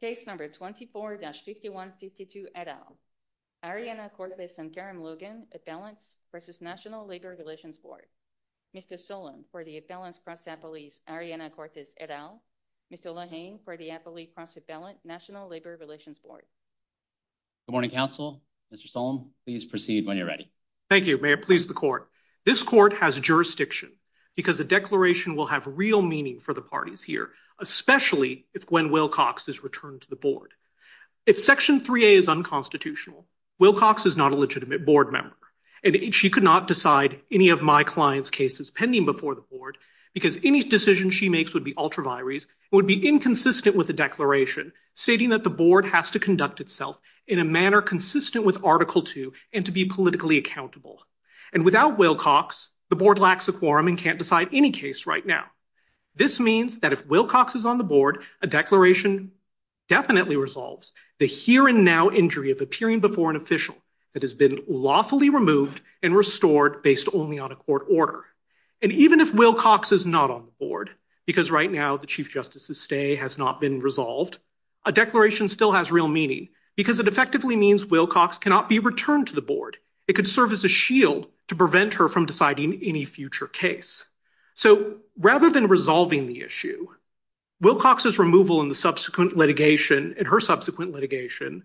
Case number 24-5152 et al. Arianna Cortes and Karen Logan, Appellants v. National Labor Relations Board. Mr. Solemn for the Appellants cross appellees, Arianna Cortes et al. Mr. Lohane for the Appellate cross appellant, National Labor Relations Board. Good morning, counsel. Mr. Solemn, please proceed when you're ready. Thank you. May it please the court. This court has jurisdiction because the declaration will have real meaning for the to the board. If Section 3A is unconstitutional, Wilcox is not a legitimate board member, and she could not decide any of my client's cases pending before the board because any decision she makes would be ultraviaries and would be inconsistent with the declaration, stating that the board has to conduct itself in a manner consistent with Article 2 and to be politically accountable. And without Wilcox, the board lacks a quorum and can't decide any case right now. This means that if Wilcox is on the board, a declaration definitely resolves the here and now injury of appearing before an official that has been lawfully removed and restored based only on a court order. And even if Wilcox is not on the board, because right now the Chief Justice's stay has not been resolved, a declaration still has real meaning because it effectively means Wilcox cannot be returned to the board. It could serve as a shield to prevent her from deciding any future case. So rather than resolving the issue, Wilcox's removal in the subsequent litigation and her subsequent litigation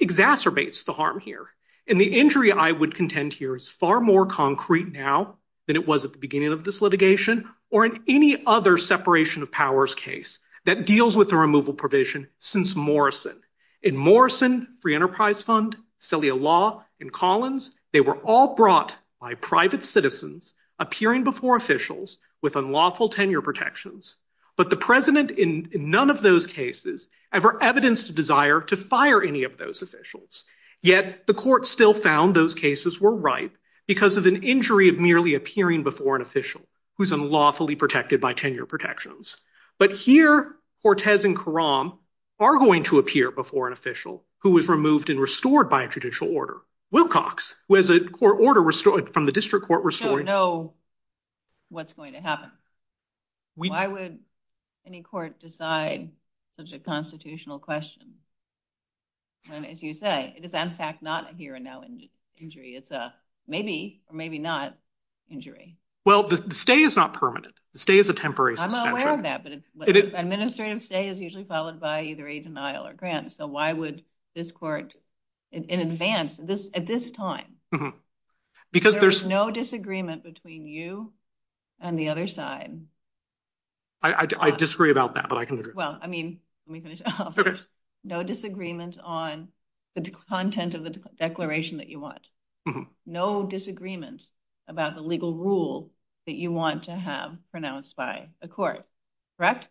exacerbates the harm here. And the injury I would contend here is far more concrete now than it was at the beginning of this litigation or in any other separation of powers case that deals with the removal provision since Morrison. In Morrison, Free Enterprise Fund, Celia Law, and Collins, they were all brought by private citizens appearing before officials with unlawful tenure protections. But the president in none of those cases ever evidenced a desire to fire any of those officials. Yet the court still found those cases were ripe because of an injury of merely appearing before an official who's unlawfully protected by tenure protections. But here, Cortez and Karam are going to appear before an official who was removed and restored by a judicial order. Wilcox, who has a court order restored from the district court restored. We don't know what's going to happen. Why would any court decide such a constitutional question when, as you say, it is in fact not a here and now injury. It's a maybe or maybe not injury. Well, the stay is not permanent. The stay is a temporary suspension. I'm aware of that, but administrative stay is usually followed by either a denial or grant. So why would this court in advance at this time? Because there's no disagreement between you and the other side. I disagree about that, but I can agree. Well, I mean, let me finish off. No disagreement on the content of the declaration that you want. No disagreement about the legal rule that you want to have pronounced by a court, correct?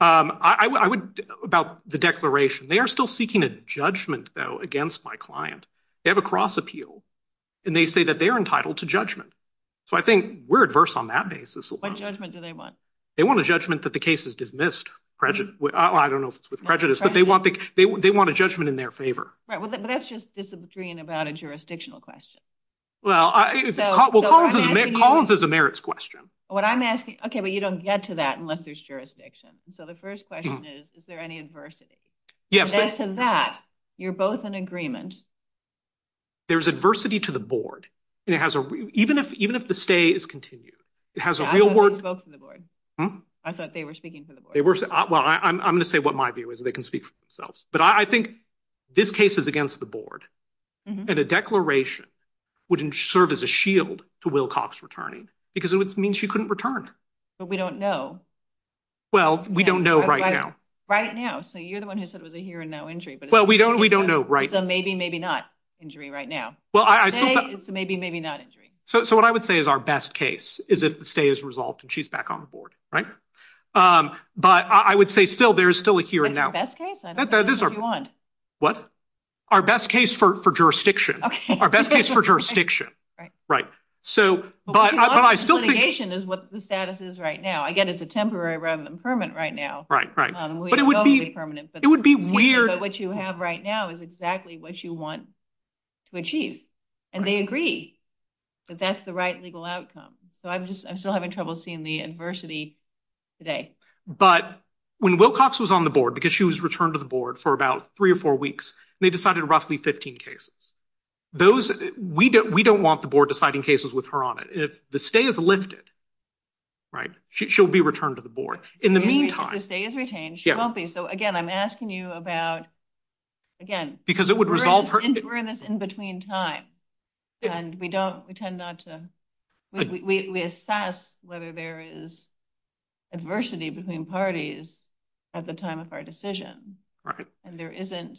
About the declaration, they are still seeking a judgment, though, against my client. They have a cross appeal, and they say that they're entitled to judgment. So I think we're adverse on that basis. What judgment do they want? They want a judgment that the case is dismissed. I don't know if it's with prejudice, but they want judgment in their favor. Right, but that's just disagreeing about a jurisdictional question. Well, Collins is a merits question. What I'm asking, okay, but you don't get to that unless there's jurisdiction. So the first question is, is there any adversity? And as to that, you're both in agreement. There's adversity to the board. Even if the stay is continued, it has a real worth. I thought they were speaking for the board. Well, I'm going to say what my view is. They can speak for themselves. But I think this case is against the board. And the declaration would serve as a shield to Wilcox returning, because it means she couldn't return. But we don't know. Well, we don't know right now. Right now. So you're the one who said it was a here and now injury, but- Well, we don't know right now. It's a maybe, maybe not injury right now. Well, I still- It's a maybe, maybe not injury. So what I would say is our best case is if the stay is resolved and she's back on the board, right? But I would say still, there's still a here and now. That's our best case? I don't know what you want. What? Our best case for jurisdiction. Our best case for jurisdiction. Right. So, but I still- But litigation is what the status is right now. Again, it's a temporary rather than permanent right now. We know it'll be permanent, but- It would be weird- But what you have right now is exactly what you want to achieve. And they agree that that's the legal outcome. So I'm just, I'm still having trouble seeing the adversity today. But when Wilcox was on the board, because she was returned to the board for about three or four weeks, they decided roughly 15 cases. Those, we don't want the board deciding cases with her on it. If the stay is lifted, right? She'll be returned to the board. In the meantime- If the stay is retained, she won't be. So again, I'm asking you about, again- Because it would resolve her- We're in this in-between time and we don't, we tend not to, we assess whether there is adversity between parties at the time of our decision. And there isn't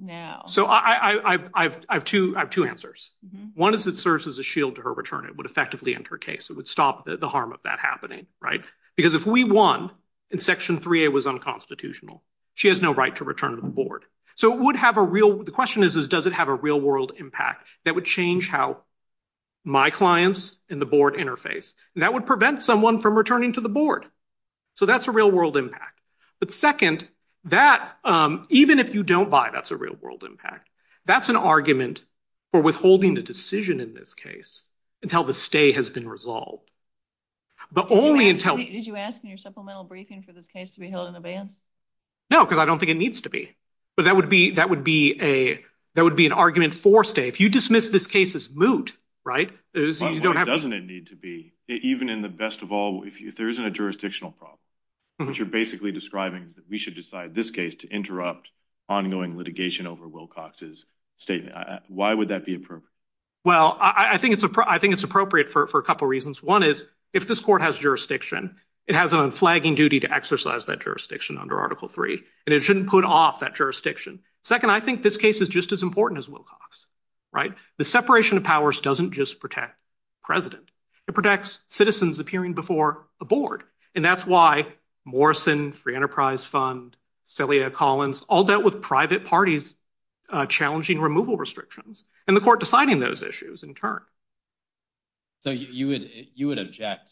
now. So I have two answers. One is it serves as a shield to her return. It would effectively end her case. It would stop the harm of that happening, right? Because if we won and Section 3A was unconstitutional, she has no right to return to the board. So it would have a real- The question is, does it have a real-world impact that would change how my clients and the board interface? And that would prevent someone from returning to the board. So that's a real-world impact. But second, that, even if you don't buy, that's a real-world impact. That's an argument for withholding the decision in this case until the stay has been resolved. But only until- Did you ask in your supplemental briefing for this case to be held in advance? No, because I don't think it needs to be. But that would be, that would be a, that would be an argument for stay. If you dismiss this case as moot, right, you don't- Why doesn't it need to be? Even in the best of all, if there isn't a jurisdictional problem, what you're basically describing is that we should decide this case to interrupt ongoing litigation over Wilcox's statement. Why would that be appropriate? Well, I think it's appropriate for a couple reasons. One is, if this court has jurisdiction, it has an unflagging duty to exercise that jurisdiction under Article 3, and it shouldn't put off that jurisdiction. Second, I think this case is just as important as Wilcox's, right? The separation of powers doesn't just protect president. It protects citizens appearing before a board. And that's why Morrison, Free Enterprise Fund, Celia Collins, all dealt with private parties challenging removal restrictions, and the court deciding those issues in turn. So you would, you would object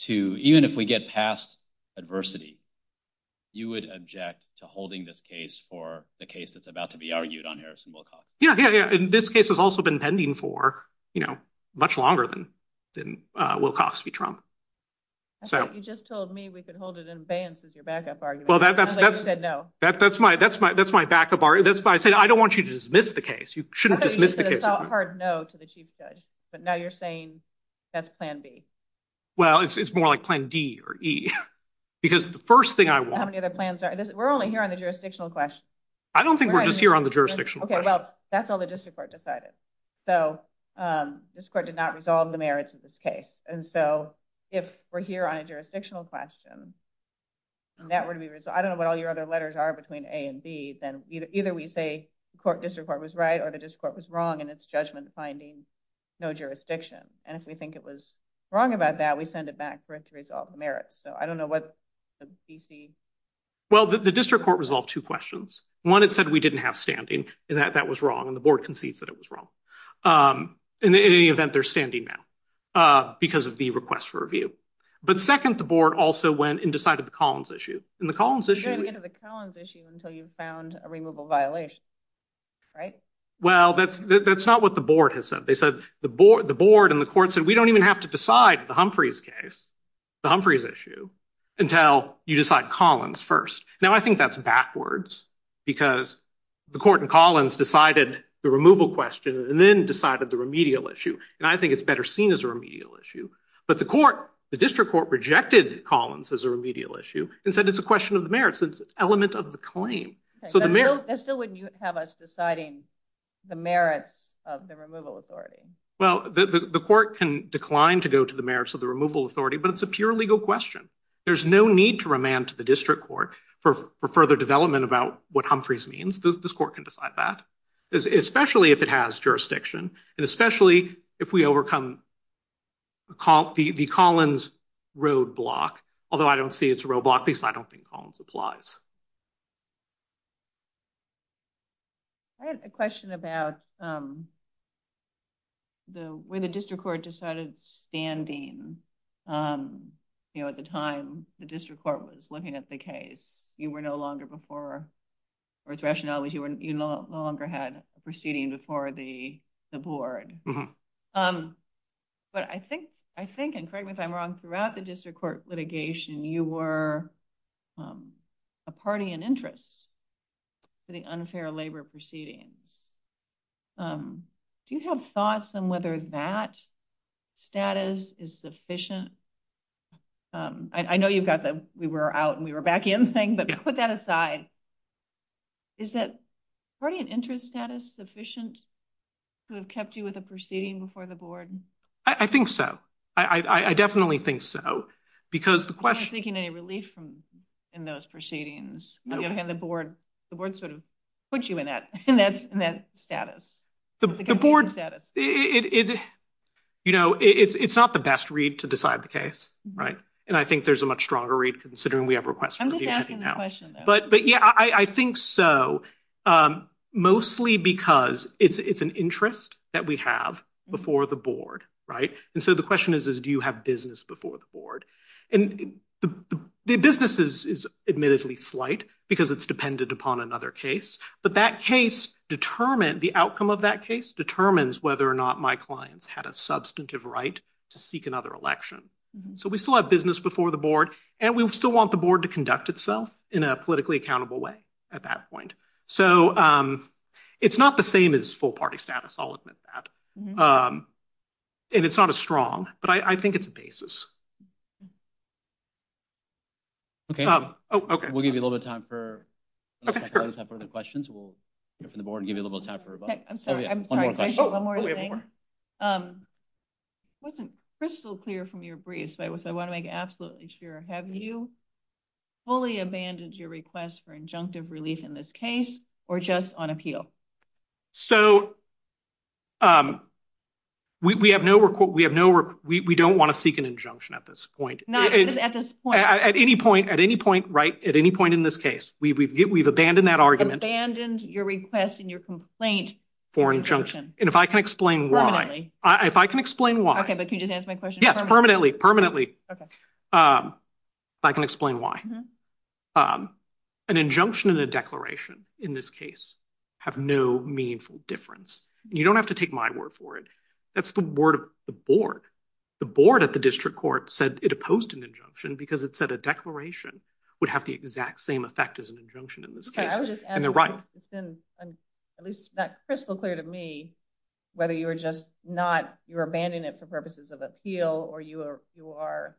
to, even if we get past adversity, you would object to holding this case for the case that's about to be argued on Harrison-Wilcox? Yeah, yeah, yeah. And this case has also been pending for, you know, much longer than, than Wilcox v. Trump. So- I thought you just told me we could hold it in abeyance as your backup argument. Well, that's- Sounds like you said no. That, that's my, that's my, that's my backup argument. That's why I said, I don't want you to dismiss the case. You shouldn't dismiss the case. It's a hard no to the chief judge. But now you're saying that's plan B. Well, it's more like plan D or E. Because the first thing I want- How many other plans are there? We're only here on the jurisdictional question. I don't think we're just here on the jurisdictional question. Okay, well, that's all the district court decided. So, this court did not resolve the merits of this case. And so, if we're here on a jurisdictional question, and that were to be resolved, I don't know what all your other letters are between A and B, then either we say the court, district court was right, or the district court was wrong in its judgment finding no jurisdiction. And if we think it was wrong about that, we send it back for it to resolve the merits. So, I don't know what the DC- Well, the district court resolved two questions. One, it said we didn't have standing, and that that was wrong. And the board concedes that it was wrong. In any event, they're standing now because of the request for review. But second, the board also went and decided the Collins issue. And the Collins issue- Until you found a removal violation, right? Well, that's not what the board has said. They said, the board and the court said, we don't even have to decide the Humphreys case, the Humphreys issue, until you decide Collins first. Now, I think that's backwards, because the court in Collins decided the removal question, and then decided the remedial issue. And I think it's better seen as a remedial issue. But the court, the district court rejected Collins as a remedial issue and said, it's a question of the merits. It's an element of the claim. So, that still wouldn't have us deciding the merits of the removal authority. Well, the court can decline to go to the merits of the removal authority, but it's a pure legal question. There's no need to remand to the district court for further development about what Humphreys means. This court can decide that, especially if it has jurisdiction, and especially if we overcome the Collins roadblock. Although, I don't see it's a roadblock, because I don't think Collins applies. I had a question about where the district court decided standing, you know, at the time the district court was looking at the case. You were no longer before, or its rationale was you no longer had a proceeding before the board. Um, but I think, I think, and correct me if I'm wrong, throughout the district court litigation, you were a party in interest for the unfair labor proceedings. Do you have thoughts on whether that status is sufficient? I know you've got the, we were out and we were back in thing, but put that aside. Is that party and interest status sufficient to have kept you with a proceeding before the board? I think so. I definitely think so. Because the question, seeking any relief from in those proceedings, on the other hand, the board, the board sort of puts you in that, in that status. The board, it, you know, it's, it's not the best read to decide the case, right? And I think there's a much stronger read considering we have requests. I'm just asking the question. But, but yeah, I think so. Um, mostly because it's, it's an interest that we have before the board, right? And so the question is, is do you have business before the board? And the business is, is admittedly slight because it's dependent upon another case. But that case determined, the outcome of that case determines whether or not my clients had a substantive right to seek another election. So we still have business before the and we still want the board to conduct itself in a politically accountable way at that point. So, um, it's not the same as full party status. I'll admit that. And it's not a strong, but I think it's a basis. Okay. Oh, okay. We'll give you a little bit of time for questions. We'll hear from the board and give you a little time for, I'm sorry. I'm sorry. One more thing. Um, it wasn't crystal clear from your briefs, but I want to make absolutely sure. Have you fully abandoned your request for injunctive relief in this case or just on appeal? So, um, we, we have no, we have no, we, we don't want to seek an injunction at this point. Not at this point, at any point, at any point, right. At any point in this case, we've, we've, we've abandoned that argument, abandoned your request and your complaint for injunction. And if I can explain why, if I can explain why. Okay. But can you just answer my question? Yes. Permanently. Permanently. Um, I can explain why, um, an injunction and a declaration in this case have no meaningful difference. You don't have to take my word for it. That's the word of the board. The board at the district court said it opposed an injunction because it said a declaration would have the exact same effect as an injunction in this case. And they're right. It's been at least that crystal clear to me, whether you were just not, you're abandoning it for purposes of appeal or you are, you are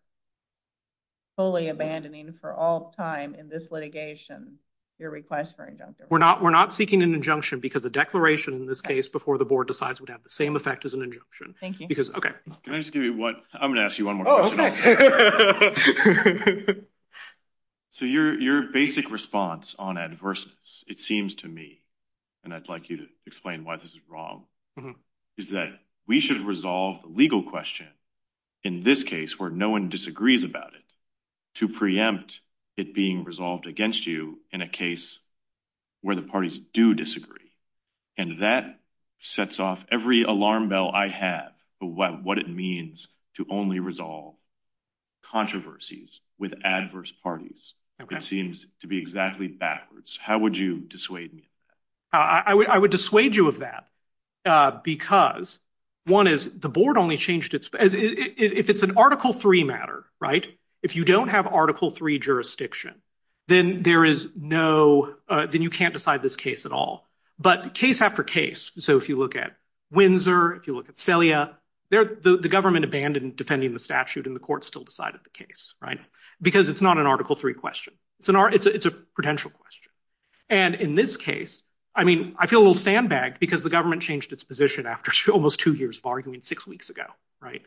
fully abandoning for all time in this litigation, your request for injunction. We're not, we're not seeking an injunction because the declaration in this case before the board decides would have the same effect as an injunction. Thank you. Because, okay. Can I just give you what I'm going to ask you one more question? So your, your basic response on adversities, it seems to me, and I'd like you to explain why this is wrong, is that we should resolve the legal question in this case where no one disagrees about it to preempt it being resolved against you in a case where the parties do disagree. And that sets off every alarm bell I have of what, what it means to only resolve controversies with adverse parties. It seems to be exactly backwards. How would you dissuade me? I would, I would dissuade you of that because one is the board only changed its, as if it's an article three matter, right? If you don't have article three jurisdiction, then there is no, then you can't decide this case at all. But case after case, so if you look at Windsor, if you look at Celia, they're the government abandoned defending the statute and the court still decided the case, right? Because it's not an article three question. It's an, it's a, it's a prudential question. And in this case, I mean, I feel a little sandbagged because the government changed its position after almost two years of arguing six weeks ago, right?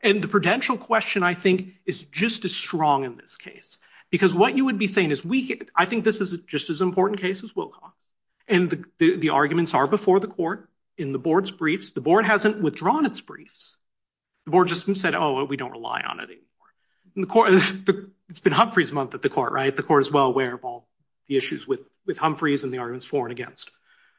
And the prudential question I think is just as strong in this case, because what you would be saying is we, I think this is just as important case as Wilcox. And the arguments are before the court in the board's briefs. The board hasn't withdrawn its briefs. The board just said, oh, we don't rely on it anymore. And the court, it's been Humphrey's month at the court, right? The court is well aware of all the issues with, with Humphrey's for and against.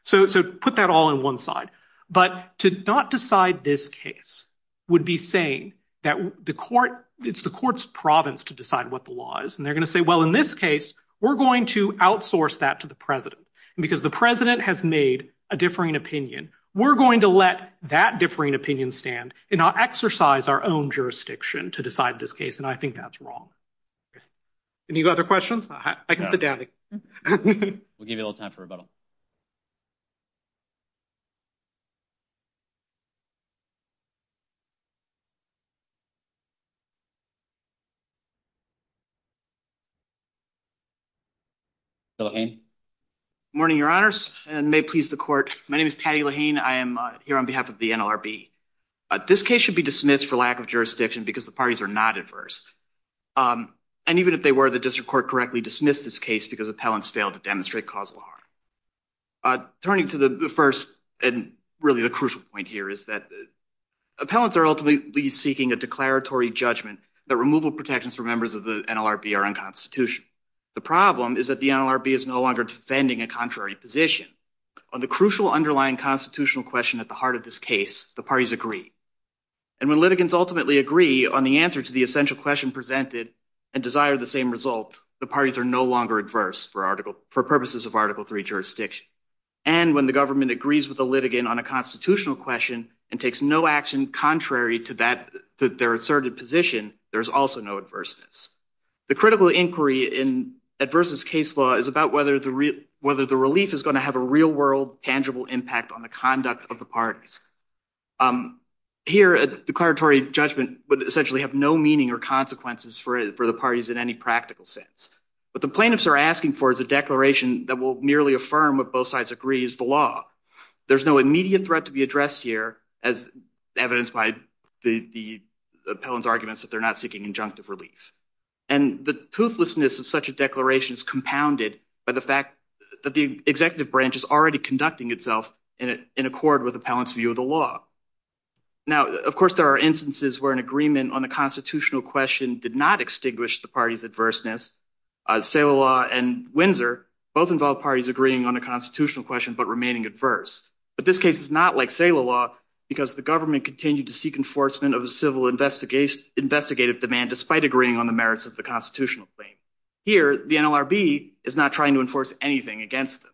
So, so put that all in one side, but to not decide this case would be saying that the court, it's the court's province to decide what the law is. And they're going to say, well, in this case, we're going to outsource that to the president because the president has made a differing opinion. We're going to let that differing opinion stand and not exercise our own jurisdiction to decide this case. And I think that's wrong. Any other questions? I can sit down. We'll give you a little time for rebuttal. Morning, your honors and may it please the court. My name is Patty Lahane. I am here on behalf of the NLRB. This case should be dismissed for lack of jurisdiction because the parties are not adverse. And even if they were, the district court correctly dismissed this case because appellants failed to demonstrate causal harm. Turning to the first and really the crucial point here is that appellants are ultimately seeking a declaratory judgment that removal protections for members of the NLRB are unconstitutional. The problem is that the NLRB is no longer defending a contrary position on the crucial underlying constitutional question at the heart of this case, the parties agree. And when litigants ultimately agree on the answer to the essential question presented and desire the same result, the parties are no longer adverse for article for purposes of article three jurisdiction. And when the government agrees with the litigant on a constitutional question and takes no action contrary to that to their asserted position, there's also no adverseness. The critical inquiry in adverseness case law is about whether the relief is going to have a real world tangible impact on the conduct of the parties. Here a declaratory judgment would essentially have no meaning or consequences for the parties in any practical sense. What the plaintiffs are asking for is a declaration that will merely affirm what both sides agree is the law. There's no immediate threat to be addressed here as evidenced by the appellant's arguments that they're not seeking injunctive relief. And the toothlessness of such a declaration is compounded by the fact that the executive branch is already conducting itself in accord with appellant's view of the law. Now, of course, there are instances where an agreement on a constitutional question did not extinguish the party's adverseness. Saleh law and Windsor both involve parties agreeing on a constitutional question but remaining adverse. But this case is not like Saleh law because the government continued to seek enforcement of a civil investigative demand despite agreeing on the merits of the constitutional claim. Here, the NLRB is not trying to enforce anything against them.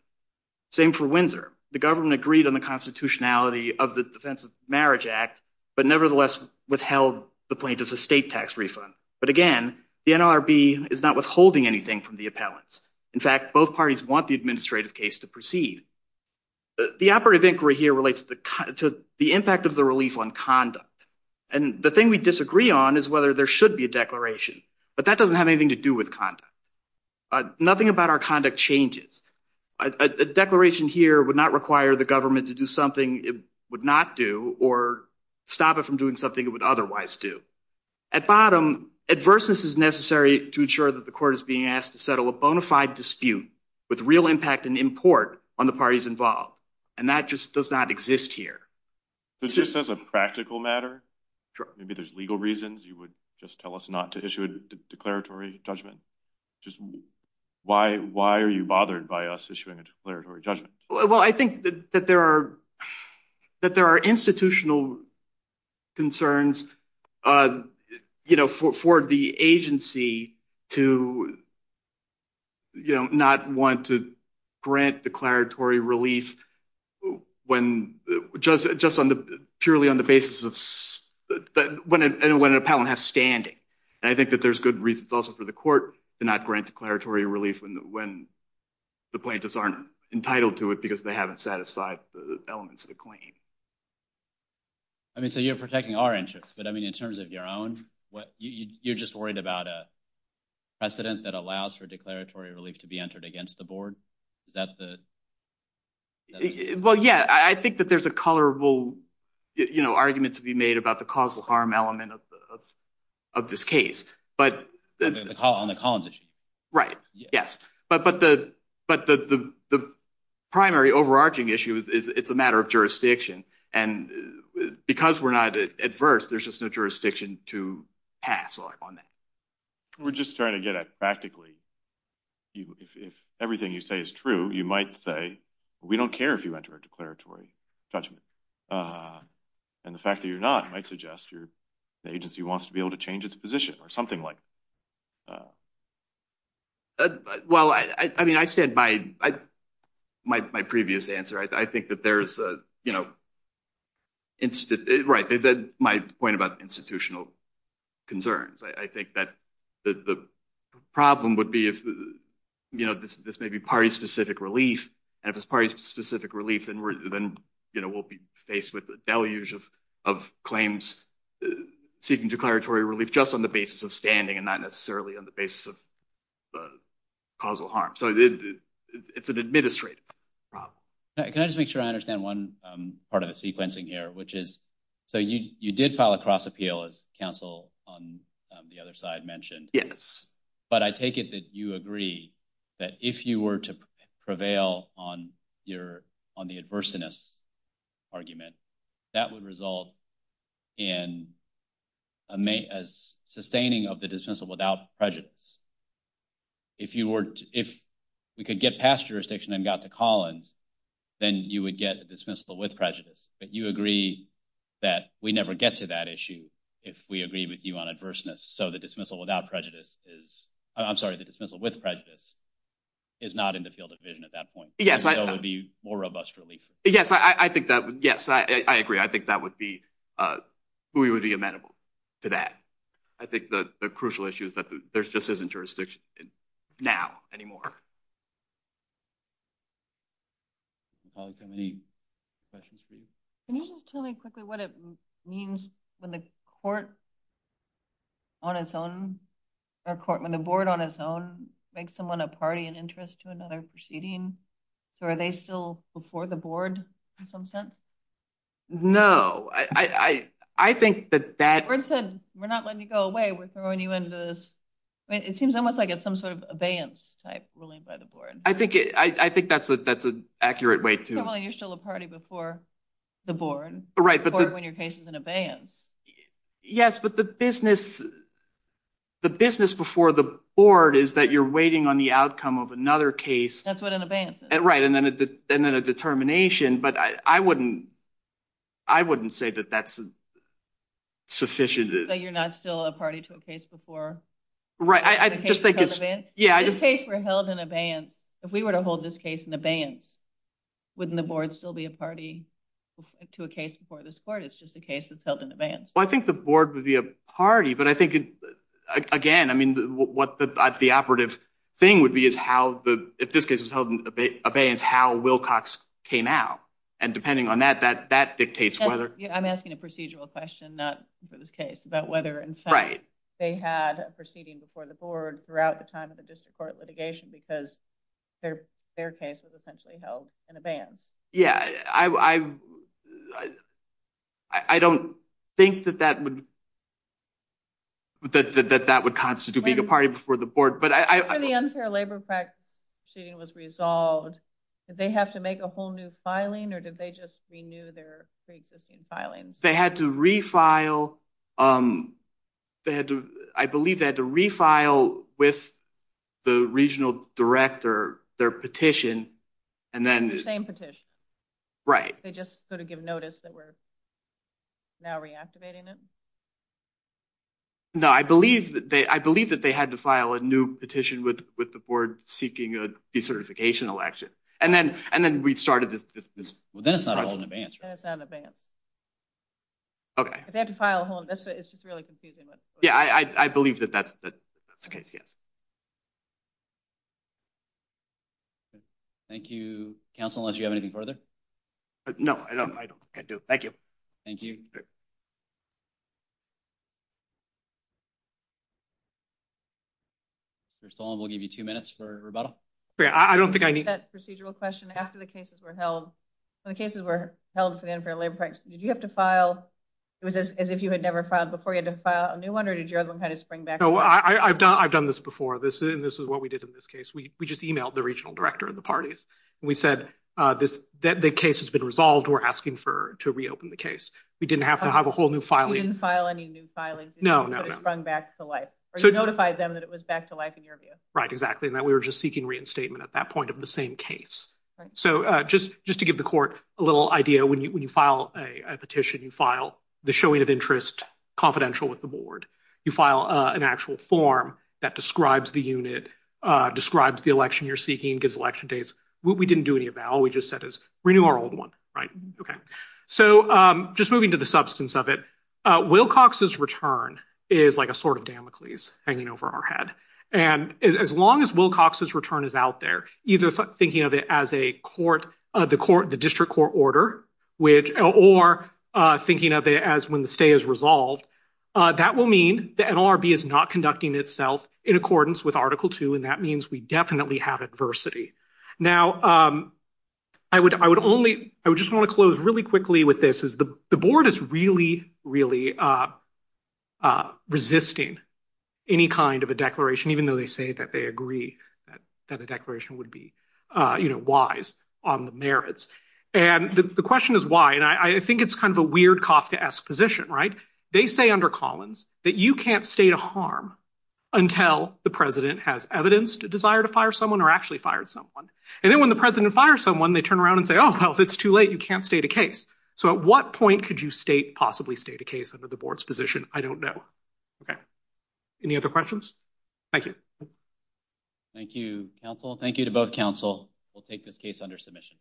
Same for Windsor. The government agreed on the constitutionality of the Defense of Marriage Act but nevertheless withheld the plaintiff's estate tax refund. But again, the NLRB is not withholding anything from the appellants. In fact, both parties want the administrative case to proceed. The operative inquiry here relates to the impact of the relief on conduct. And the thing we disagree on is whether there should be a declaration. But that doesn't have anything to do with conduct. Nothing about our conduct changes. A declaration here would not require the government to do something it would not do or stop it from doing something it would otherwise do. At bottom, adverseness is necessary to ensure that the court is being asked to settle a bona fide dispute with real impact and import on the parties involved. And that just does not exist here. It's just as a practical matter. Maybe there's legal reasons you would just tell us not to issue a declaratory judgment. Why are you bothered by us issuing a declaratory judgment? Well, I think that there are institutional concerns for the agency to not want to grant declaratory relief purely on the basis of when an appellant has standing. And I think that there's good reasons also for the court to not grant declaratory relief when the plaintiffs aren't entitled to it because they haven't satisfied the elements of the claim. I mean, so you're protecting our interests. But I mean, in terms of your own, you're just worried about a precedent that allows for declaratory relief to be entered against the board. Is that the? Well, yeah, I think that there's a colorable argument to be made about the causal harm element of this case. But on the Collins issue. Right. Yes. But the primary overarching issue is it's a matter of jurisdiction. And because we're not adverse, there's just no jurisdiction to pass on that. We're just trying to get at practically. If everything you say is true, you might say, we don't care if you enter a declaratory judgment. And the fact that you're not might suggest your agency wants to be able to change its position or something like. Uh, well, I mean, I said my my my previous answer, I think that there's a, you know. Right. My point about institutional concerns, I think that the problem would be if, you know, this may be party specific relief and if it's party specific relief, then we're then, you know, we'll be faced with the deluge of of claims seeking declaratory relief just on the not necessarily on the basis of the causal harm. So it's an administrative problem. Can I just make sure I understand one part of the sequencing here, which is so you you did file a cross appeal as counsel on the other side mentioned? Yes. But I take it that you agree that if you were to prevail on your on the adverseness argument, that would result in a sustaining of the dismissal without prejudice. If you were if we could get past jurisdiction and got to Collins, then you would get a dismissal with prejudice. But you agree that we never get to that issue if we agree with you on adverseness. So the dismissal without prejudice is I'm sorry, the dismissal with prejudice is not in the field of vision at that point. Yes, I would be more robust relief. Yes, I think that. Yes, I agree. I think that would be we would be amenable to that. I think the crucial issue is that there's just isn't jurisdiction now anymore. Any questions for you? Can you just tell me quickly what it means when the court on its own or court when the board on its own makes someone a party and interest to another proceeding? So are they still before the in some sense? No, I think that that said, we're not letting you go away. We're throwing you into this. It seems almost like it's some sort of abeyance type ruling by the board. I think it I think that's a that's an accurate way to you're still a party before the board. Right. But when your case is an abeyance. Yes, but the business the business before the board is that you're waiting on the outcome of another case. That's what an abeyance. Right. And then and then a determination. But I wouldn't I wouldn't say that that's sufficient that you're not still a party to a case before. Right. I just think it's yeah, I just say we're held in abeyance. If we were to hold this case in abeyance, wouldn't the board still be a party to a case before this court? It's just a case that's held in abeyance. Well, I think the board would be a party. But I think again, I mean, what the operative thing would be is how the if this case was held in abeyance, how Wilcox came out. And depending on that, that that dictates whether I'm asking a procedural question, not for this case about whether. Right. They had a proceeding before the board throughout the time of the district court litigation because their their case was essentially held in abeyance. Yeah, I I don't think that that would that that that would constitute being a party before the board. But I think the unfair labor practice proceeding was resolved. Did they have to make a whole new filing or did they just renew their pre-existing filings? They had to refile. They had to I believe they had to refile with the regional director their petition. And then the same petition. Right. They just sort of give notice that we're now reactivating it. No, I believe that they I believe that they had to file a new petition with with the board seeking a decertification election. And then and then we started this. Well, then it's not held in abeyance. It's not in abeyance. OK, they have to file a whole. It's just really confusing. Yeah, I believe that that's the case. Yes. Thank you, counsel, unless you have anything further. No, I don't. I do. Thank you. Thank you. First of all, we'll give you two minutes for rebuttal. I don't think I need that procedural question after the cases were held. The cases were held for the unfair labor practice. Did you have to file it was as if you had never filed before you had to file a new one or did you know, I've done I've done this before this and this is what we did in this case. We just emailed the regional director of the parties and we said this that the case has been resolved. We're asking for to reopen the case. We didn't have to have a whole new filing file. Any new filing? No, no, no. Sprung back to life. So notify them that it was back to life in your view. Right. Exactly. And that we were just seeking reinstatement at that point of the same case. So just just to give the court a little idea, when you file a petition, you file the showing of interest confidential with the board. You file an actual form that describes the unit, describes the election you're seeking, gives election dates. We didn't do any of that. All we just said is renew our old one. Right. OK. So just moving to the substance of it, Wilcox's return is like a sort of Damocles hanging over our head. And as long as Wilcox's return is out there, either thinking of it as a court of the court, the district court order, which or thinking of it as when the stay is resolved, that will mean the NLRB is not conducting itself in accordance with Article two. And that means we definitely have adversity. Now, I would I would only I would just want to close really quickly with this is the board is really, really resisting any kind of a declaration, even though they say that they agree that the on the merits. And the question is why? And I think it's kind of a weird Kafkaesque position, right? They say under Collins that you can't state a harm until the president has evidenced a desire to fire someone or actually fired someone. And then when the president fires someone, they turn around and say, oh, well, it's too late. You can't state a case. So at what point could you state possibly state a case under the board's position? I don't know. OK. Any other questions? Thank you. Thank you, counsel. Thank you to both counsel. We'll take this case under submission.